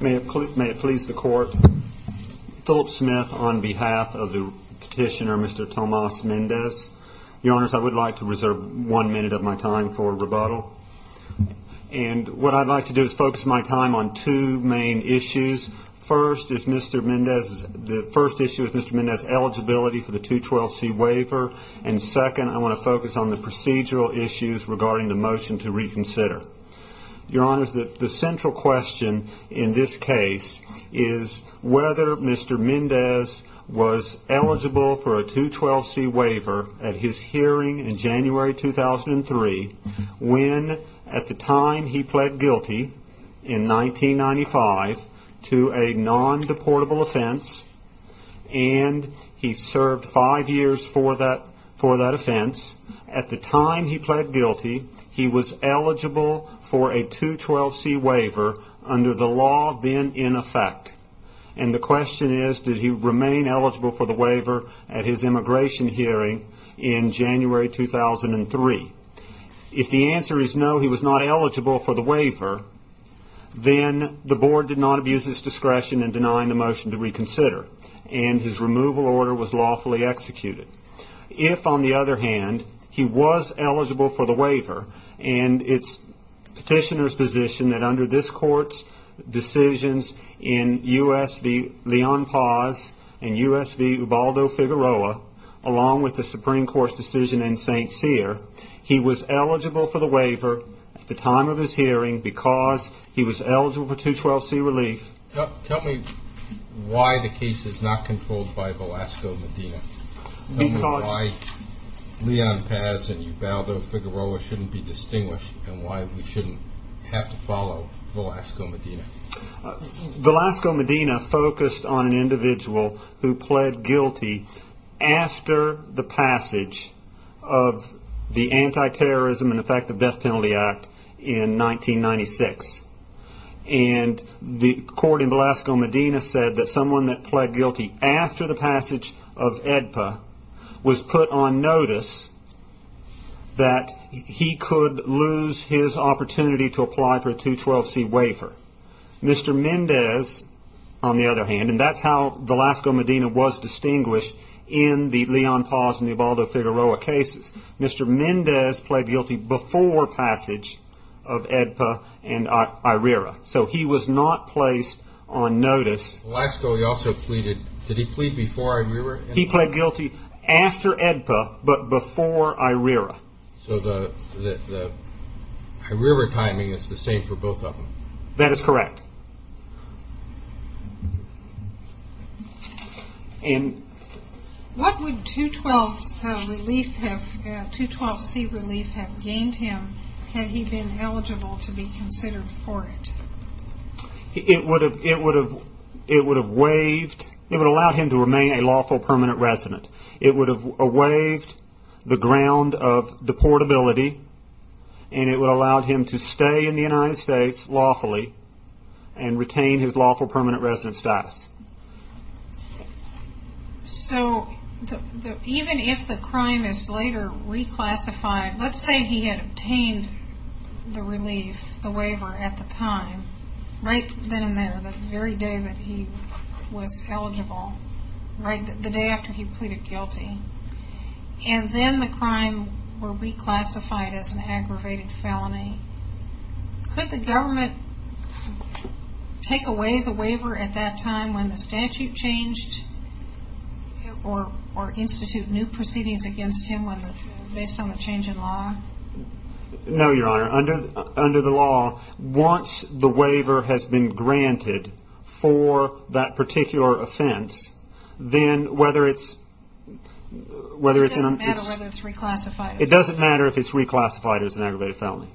May it please the Court. Philip Smith on behalf of the petitioner, Mr. Tomas Mendez. Your Honors, I would like to reserve one minute of my time for rebuttal. And what I'd like to do is focus my time on two main issues. First is Mr. Mendez, the first issue is Mr. Mendez's eligibility for the 212C waiver. And second, I want to focus on the procedural issues regarding the 212C waiver. Your Honors, the central question in this case is whether Mr. Mendez was eligible for a 212C waiver at his hearing in January 2003 when at the time he pled guilty in 1995 to a non-deportable offense and he served five years for that offense. At the time he was eligible for a 212C waiver under the law then in effect. And the question is did he remain eligible for the waiver at his immigration hearing in January 2003. If the answer is no he was not eligible for the waiver, then the Board did not abuse its discretion in denying the motion to reconsider and his removal order was lawfully executed. If on the other hand, he was eligible for the waiver and it's petitioner's position that under this court's decisions in US v. Leon Paz and US v. Ubaldo Figueroa along with the Supreme Court's decision in St. Cyr, he was eligible for the waiver at the time of his hearing because he was eligible for 212C relief. Tell me why the case is not controlled by Velasco Medina? Why Leon Paz and Ubaldo Figueroa shouldn't be distinguished and why we shouldn't have to follow Velasco Medina? Velasco Medina focused on an individual who pled guilty after the passage of the Anti-Terrorism and Effective Death Penalty Act in 1996. And the court in Velasco Medina said that someone that pled guilty after the passage of AEDPA was put on notice that he could lose his opportunity to apply for a 212C waiver. Mr. Mendez, on the other hand, and that's how Velasco Medina was distinguished in the Leon Paz and the Ubaldo Figueroa cases, Mr. Medina pled guilty before passage of AEDPA and IRERA. So he was not placed on notice. Velasco, he also pleaded, did he plead before IRERA? He pled guilty after AEDPA but before IRERA. So the IRERA timing is the same for both of them? That is correct. What would 212C relief have gained him had he been eligible to be considered for it? It would have waived, it would allow him to remain a lawful permanent resident. It would have waived the ground of deportability and it would have allowed him to stay in the United States lawfully and retain his lawful permanent resident status. So even if the crime is later reclassified, let's say he had obtained the relief, the waiver at the time, right then and there, the very day that he was eligible, right the day after he pleaded guilty, and then the crime were reclassified as an aggravated felony, could the government take away the waiver at that time when the statute changed or institute new proceedings against him based on the change in law? No Your Honor, under the law, once the waiver has been granted for that particular offense, then whether it's... It doesn't matter whether it's reclassified. It doesn't matter if it's reclassified as an aggravated felony.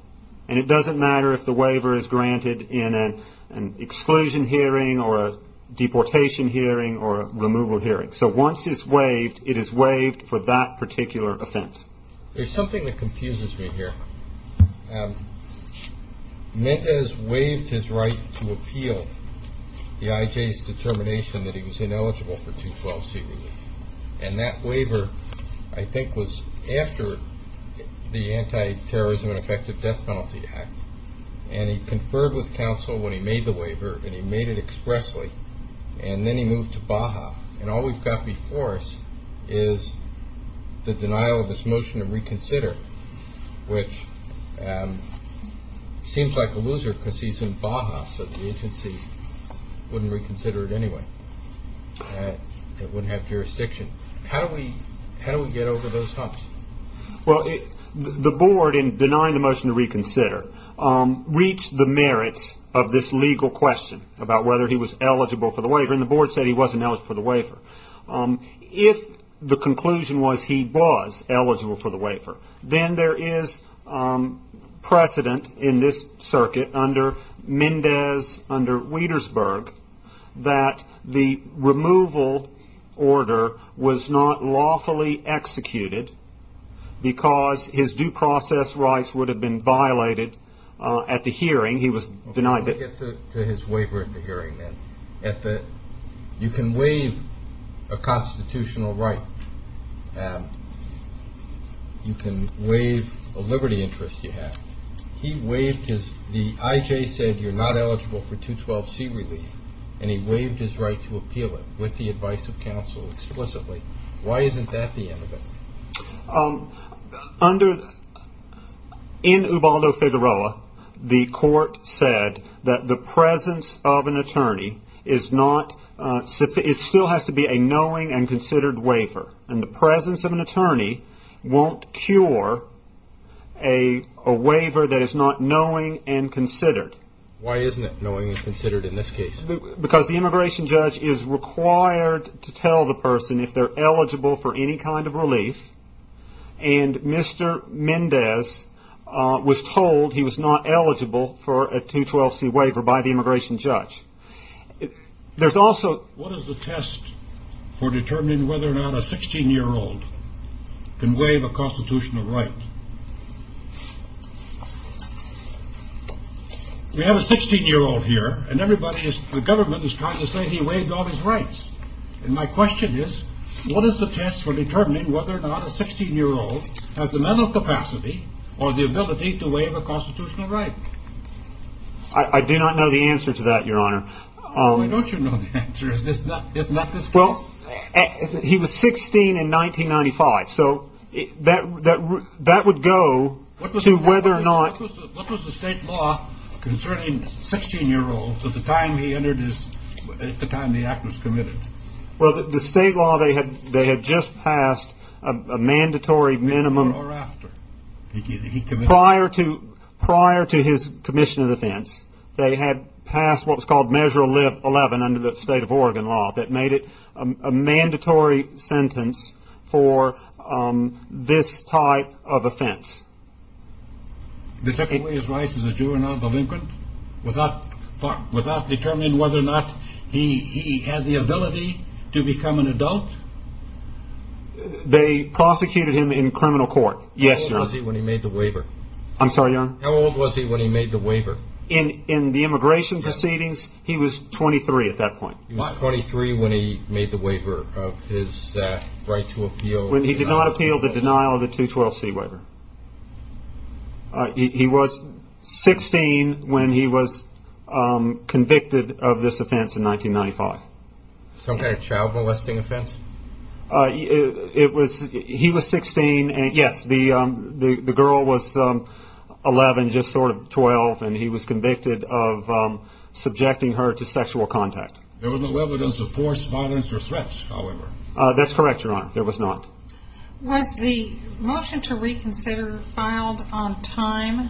And it doesn't matter if the waiver is granted in an exclusion hearing or a deportation hearing or a removal hearing. So once it's waived, it is waived for that particular offense. There's something that confuses me here. Mendez waived his right to appeal the IJ's determination that he was ineligible for 212C relief. And that waiver, I think, was after the Anti-Terrorism and Effective Death Penalty Act. And he conferred with counsel when he made the waiver, and he made it expressly. And then he moved to Baja. And all we've got before us is the denial of this motion to reconsider, which seems like a loser because he's in Baja, so the court wouldn't have jurisdiction. How do we get over those humps? The board, in denying the motion to reconsider, reached the merits of this legal question about whether he was eligible for the waiver. And the board said he wasn't eligible for the waiver. If the conclusion was he was eligible for the waiver, then there is precedent in this circuit under Mendez, under Wietersburg, that the removal order was not lawfully executed because his due process rights would have been violated at the hearing. He was denied that. Let me get to his waiver at the hearing. You can waive a constitutional right. You can waive a constitutional right. But you can't waive a constitutional right because the IJ said you're not eligible for 212C relief, and he waived his right to appeal it with the advice of counsel explicitly. Why isn't that the end of it? In Ubaldo-Figueroa, the court said that the presence of an attorney is not, it still has to be a knowing and considered waiver. And the presence of an attorney won't cure a waiver that is not knowing and considered. Why isn't it knowing and considered in this case? Because the immigration judge is required to tell the person if they're eligible for any kind of relief. And Mr. Mendez was told he was not eligible for a 212C waiver by the immigration judge. What is the test for determining whether or not a 16-year-old can waive a constitutional right? We have a 16-year-old here, and everybody is, the government is trying to say he waived all his rights. And my question is, what is the test for determining whether or not a 16-year-old has the mental capacity or the ability to waive a constitutional right? I do not know the answer to that, Your Honor. Oh, why don't you know the answer? Isn't that the question? He was 16 in 1995, so that would go to whether or not... What was the state law concerning 16-year-olds at the time he entered, at the time the act was committed? Well, the state law, they had just passed a mandatory minimum prior to his commission of defense. They had passed what was called Measure 11 under the state of Oregon law that made it a mandatory sentence for this type of offense. They took away his rights as a juvenile delinquent without determining whether or not he had the ability to become an adult? They prosecuted him in criminal court, yes, Your Honor. How old was he when he made the waiver? I'm sorry, Your Honor? How old was he when he made the waiver? In the immigration proceedings, he was 23 at that point. He was 23 when he made the waiver of his right to appeal... When he did not appeal the denial of the 212C waiver. He was 16 when he was convicted of this offense in 1995. Some kind of child molesting offense? He was 16, and yes, the girl was 11, just sort of 12, and he was convicted of subjecting her to sexual contact. There was no evidence of force, violence, or threats, however? That's correct, Your Honor. There was not. Was the motion to reconsider filed on time?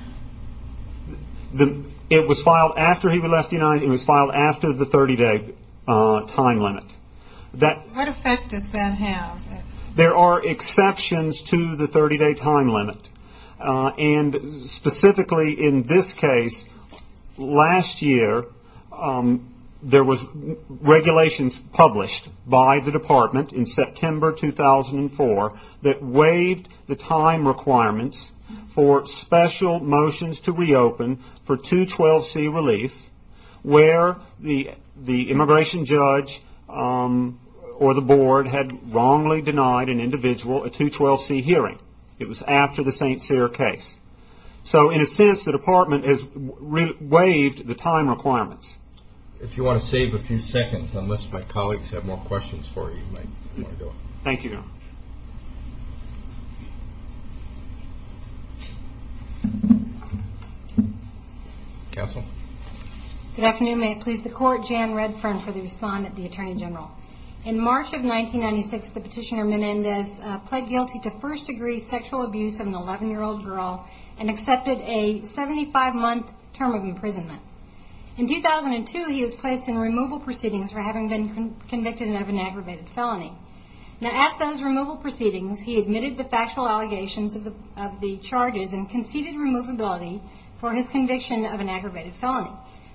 It was filed after he was left behind. It was filed after the 30-day time limit. What effect does that have? There are exceptions to the 30-day time limit, and specifically in this case, last year, there were regulations published by the department in September 2004 that waived the time requirements for special motions to reopen for 212C relief where the immigration judge or the board had wrongly denied an individual a 212C hearing. It was after the St. Cyr case. So in a sense, the department has waived the time requirements. If you want to save a few seconds, unless my colleagues have more questions for you, you might want to go ahead. Thank you, Your Honor. Counsel? Good afternoon. May it please the Court, Jan Redfern for the respondent, the Attorney General. In March of 1996, the petitioner Menendez pled guilty to first-degree sexual abuse of an 11-year-old girl and accepted a 75-month term of imprisonment. In 2002, he was placed in removal proceedings for having been convicted of an aggravated felony. Now, at those removal proceedings, he admitted the factual allegations of the charges and conceded removability for his conviction of an aggravated felony.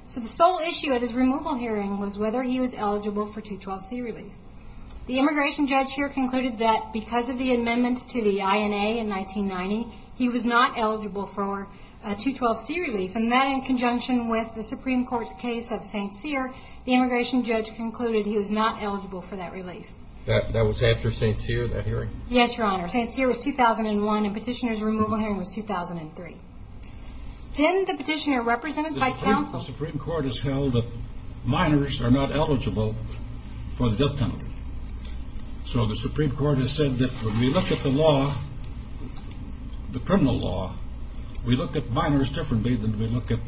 So the sole issue at his removal hearing was whether he was eligible for 212C relief. The immigration judge here concluded that because of the amendments to the INA in 1990, he was not eligible for 212C relief, and that in conjunction with the Supreme Court case of St. Cyr, the immigration judge concluded he was not eligible for that relief. That was after St. Cyr, that hearing? Yes, Your Honor. St. Cyr was 2001, and the petitioner's removal hearing was 2003. Then the petitioner, represented by counsel... So the Supreme Court has said that when we look at the law, the criminal law, we look at minors differently than we look at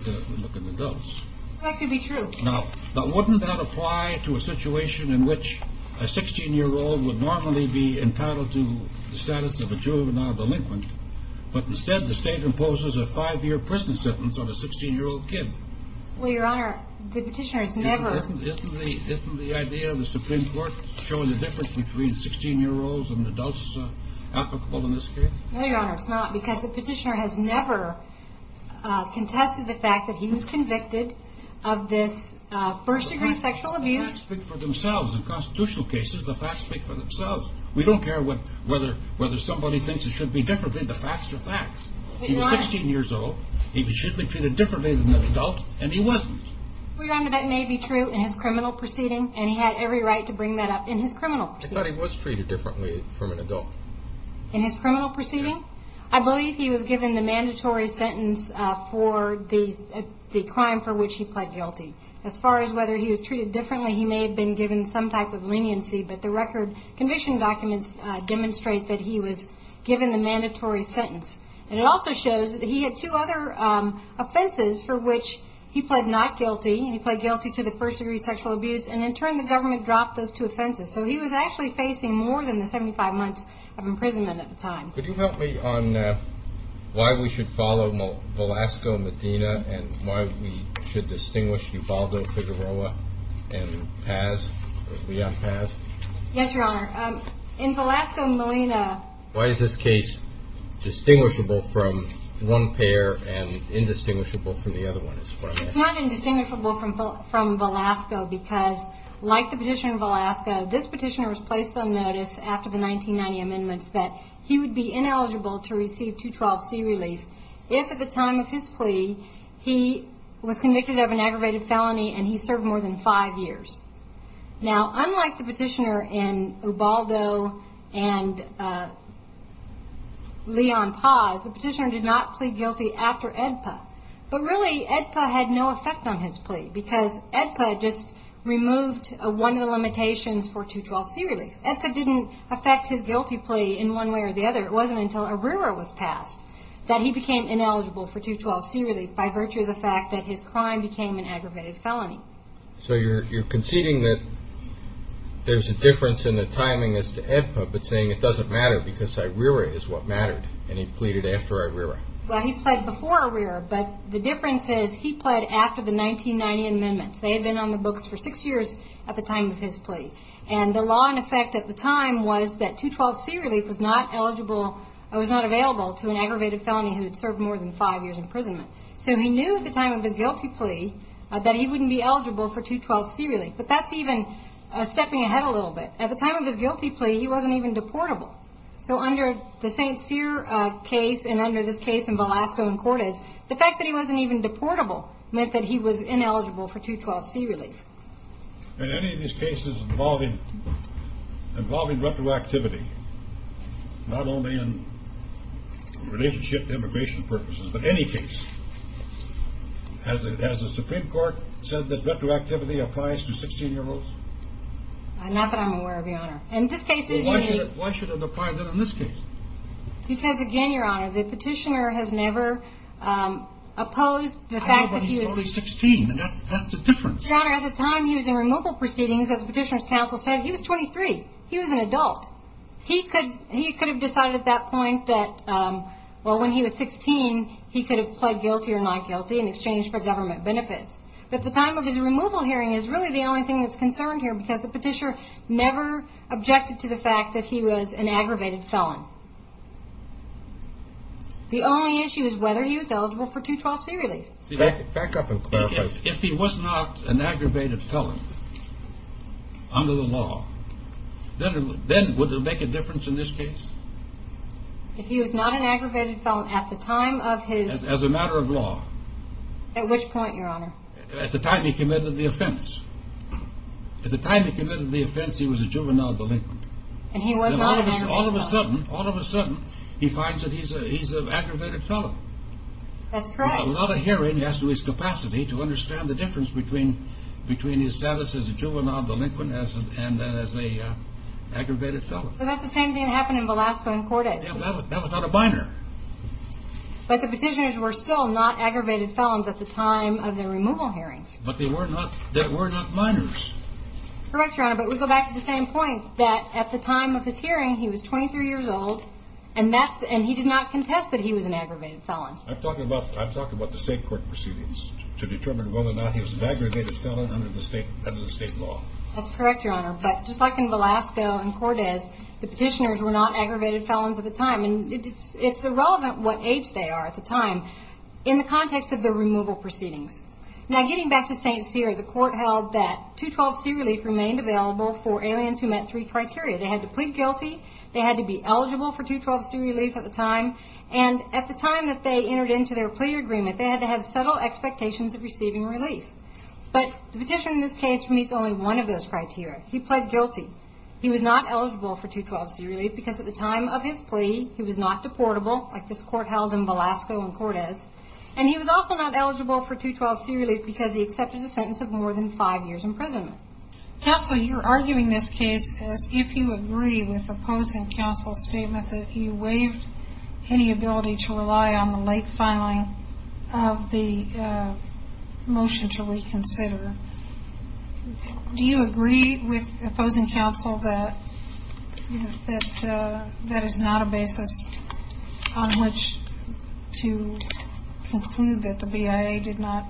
adults. That could be true. Now, wouldn't that apply to a situation in which a 16-year-old would normally be entitled to the status of a juvenile delinquent, but instead the state imposes a five-year prison sentence on a 16-year-old kid? Well, Your Honor, the petitioner's never... Showing the difference between 16-year-olds and adults is applicable in this case? No, Your Honor, it's not, because the petitioner has never contested the fact that he was convicted of this first-degree sexual abuse. The facts speak for themselves. In constitutional cases, the facts speak for themselves. We don't care whether somebody thinks it should be differently. The facts are facts. He was 16 years old. He should be treated differently than an adult, and he wasn't. Your Honor, that may be true in his criminal proceeding, and he had every right to bring that up in his criminal proceeding. I thought he was treated differently from an adult. In his criminal proceeding? Yes. I believe he was given the mandatory sentence for the crime for which he pled guilty. As far as whether he was treated differently, he may have been given some type of leniency, but the record conviction documents demonstrate that he was given the mandatory sentence. And it also shows that he had two other offenses for which he pled not guilty, and he pled guilty to the first-degree sexual abuse. And in turn, the government dropped those two offenses. So he was actually facing more than the 75 months of imprisonment at the time. Could you help me on why we should follow Velasco, Medina, and why we should distinguish Ubaldo, Figueroa, and Paz, Leon Paz? Yes, Your Honor. In Velasco, Medina. Why is this case distinguishable from one pair and indistinguishable from the other one? It's not indistinguishable from Velasco because, like the petitioner in Velasco, this petitioner was placed on notice after the 1990 amendments that he would be ineligible to receive 212C relief if, at the time of his plea, he was convicted of an aggravated felony and he served more than five years. Now, unlike the petitioner in Ubaldo and Leon Paz, the petitioner did not plead guilty after AEDPA. But really, AEDPA had no effect on his plea because AEDPA just removed one of the limitations for 212C relief. AEDPA didn't affect his guilty plea in one way or the other. It wasn't until ARERA was passed that he became ineligible for 212C relief by virtue of the fact that his crime became an aggravated felony. So you're conceding that there's a difference in the timing as to AEDPA but saying it doesn't matter because ARERA is what mattered and he pleaded after ARERA. Well, he pled before ARERA, but the difference is he pled after the 1990 amendments. They had been on the books for six years at the time of his plea. And the law in effect at the time was that 212C relief was not available to an aggravated felony who had served more than five years imprisonment. So he knew at the time of his guilty plea that he wouldn't be eligible for 212C relief. But that's even stepping ahead a little bit. At the time of his guilty plea, he wasn't even deportable. So under the St. Cyr case and under this case in Velasco and Cortez, the fact that he wasn't even deportable meant that he was ineligible for 212C relief. In any of these cases involving retroactivity, not only in relationship to immigration purposes, but any case, has the Supreme Court said that retroactivity applies to 16-year-olds? Not that I'm aware of, Your Honor. Why should it apply then in this case? Because, again, Your Honor, the petitioner has never opposed the fact that he was— But he's only 16, and that's a difference. Your Honor, at the time he was in removal proceedings, as the petitioner's counsel said, he was 23. He was an adult. He could have decided at that point that, well, when he was 16, he could have pled guilty or not guilty in exchange for government benefits. But at the time of his removal hearing is really the only thing that's concerned here because the petitioner never objected to the fact that he was an aggravated felon. The only issue is whether he was eligible for 212C relief. See, back up and clarify. If he was not an aggravated felon under the law, then would it make a difference in this case? If he was not an aggravated felon at the time of his— As a matter of law. At which point, Your Honor? At the time he committed the offense. At the time he committed the offense, he was a juvenile delinquent. And he was not an aggravated felon. All of a sudden, all of a sudden, he finds that he's an aggravated felon. That's correct. A lot of hearing has to do with his capacity to understand the difference between his status as a juvenile delinquent and as an aggravated felon. That's the same thing that happened in Velasco and Cordes. That was not a minor. But the petitioners were still not aggravated felons at the time of their removal hearings. But they were not minors. Correct, Your Honor, but we go back to the same point that at the time of his hearing, he was 23 years old, and he did not contest that he was an aggravated felon. I'm talking about the state court proceedings to determine whether or not he was an aggravated felon under the state law. That's correct, Your Honor. But just like in Velasco and Cordes, the petitioners were not aggravated felons at the time. And it's irrelevant what age they are at the time in the context of the removal proceedings. Now, getting back to St. Cyr, the court held that 212C relief remained available for aliens who met three criteria. They had to plead guilty. They had to be eligible for 212C relief at the time. And at the time that they entered into their plea agreement, they had to have subtle expectations of receiving relief. But the petitioner in this case meets only one of those criteria. He pled guilty. He was not eligible for 212C relief because at the time of his plea, he was not deportable like this court held in Velasco and Cordes. And he was also not eligible for 212C relief because he accepted a sentence of more than five years' imprisonment. Counsel, you're arguing this case as if you agree with opposing counsel's statement that you waived any ability to rely on the late filing of the motion to reconsider. Do you agree with opposing counsel that that is not a basis on which to conclude that the BIA did not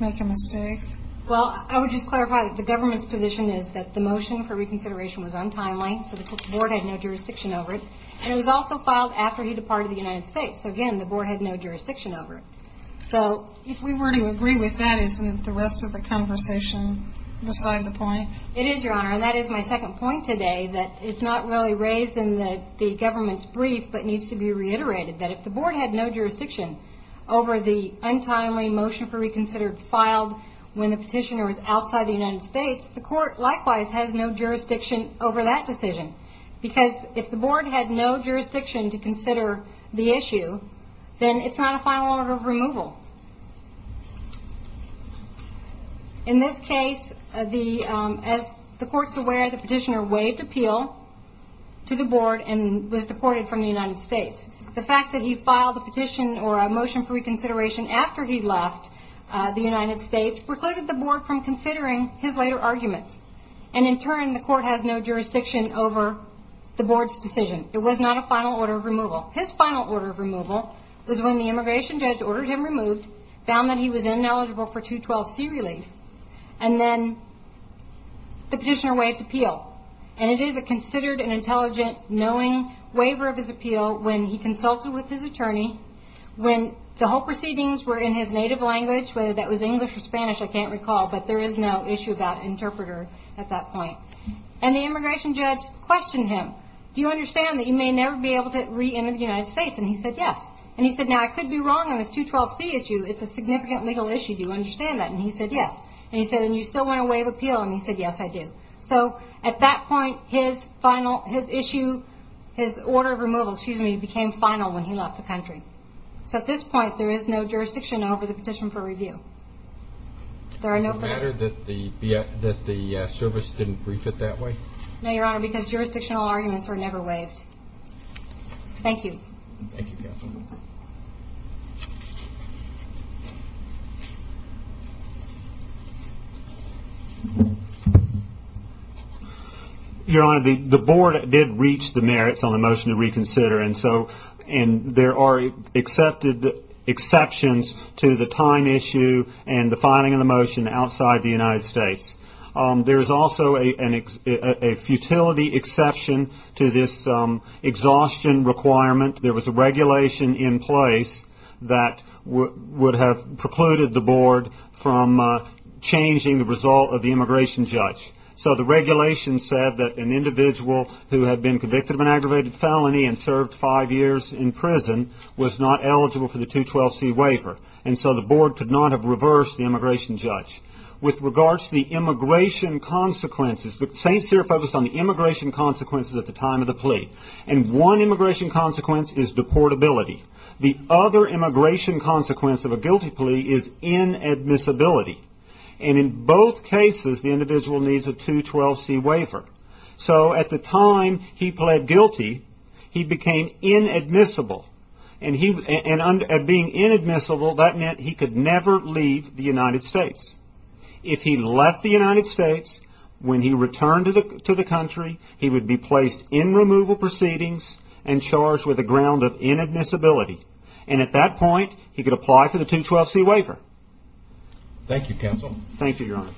make a mistake? Well, I would just clarify that the government's position is that the motion for reconsideration was untimely, so the court had no jurisdiction over it. And it was also filed after he departed the United States. So, again, the board had no jurisdiction over it. So if we were to agree with that, isn't the rest of the conversation beside the point? It is, Your Honor, and that is my second point today, that it's not really raised in the government's brief but needs to be reiterated, that if the board had no jurisdiction over the untimely motion for reconsider filed when the petitioner was outside the United States, the court likewise has no jurisdiction over that decision. Because if the board had no jurisdiction to consider the issue, then it's not a final order of removal. In this case, as the court's aware, the petitioner waived appeal to the board and was deported from the United States. The fact that he filed a petition or a motion for reconsideration after he left the United States precluded the board from considering his later arguments. And in turn, the court has no jurisdiction over the board's decision. It was not a final order of removal. His final order of removal was when the immigration judge ordered him removed, found that he was ineligible for 212C relief, and then the petitioner waived appeal. And it is a considered and intelligent, knowing waiver of his appeal when he consulted with his attorney, when the whole proceedings were in his native language, whether that was English or Spanish, I can't recall, but there is no issue about interpreter at that point. And the immigration judge questioned him, do you understand that you may never be able to re-enter the United States? And he said, yes. And he said, now, I could be wrong on this 212C issue. It's a significant legal issue. Do you understand that? And he said, yes. And he said, and you still want to waive appeal? And he said, yes, I do. So, at that point, his final, his issue, his order of removal, excuse me, became final when he left the country. So, at this point, there is no jurisdiction over the petition for review. There are no further... Is it a matter that the service didn't brief it that way? No, Your Honor, because jurisdictional arguments were never waived. Thank you. Thank you, Counsel. Your Honor, the board did reach the merits on the motion to reconsider, and so there are exceptions to the time issue and the filing of the motion outside the United States. There is also a futility exception to this exhaustion requirement. There was a regulation in place that would have precluded the board from changing the result of the immigration judge. So the regulation said that an individual who had been convicted of an aggravated felony and served five years in prison was not eligible for the 212C waiver. And so the board could not have reversed the immigration judge. With regards to the immigration consequences, St. Cyr focused on the immigration consequences at the time of the plea. And one immigration consequence is deportability. The other immigration consequence of a guilty plea is inadmissibility. And in both cases, the individual needs a 212C waiver. So at the time he pled guilty, he became inadmissible. And being inadmissible, that meant he could never leave the United States. If he left the United States, when he returned to the country, he would be placed in removal proceedings and charged with a ground of inadmissibility. And at that point, he could apply for the 212C waiver. Thank you, counsel. Thank you, Your Honor.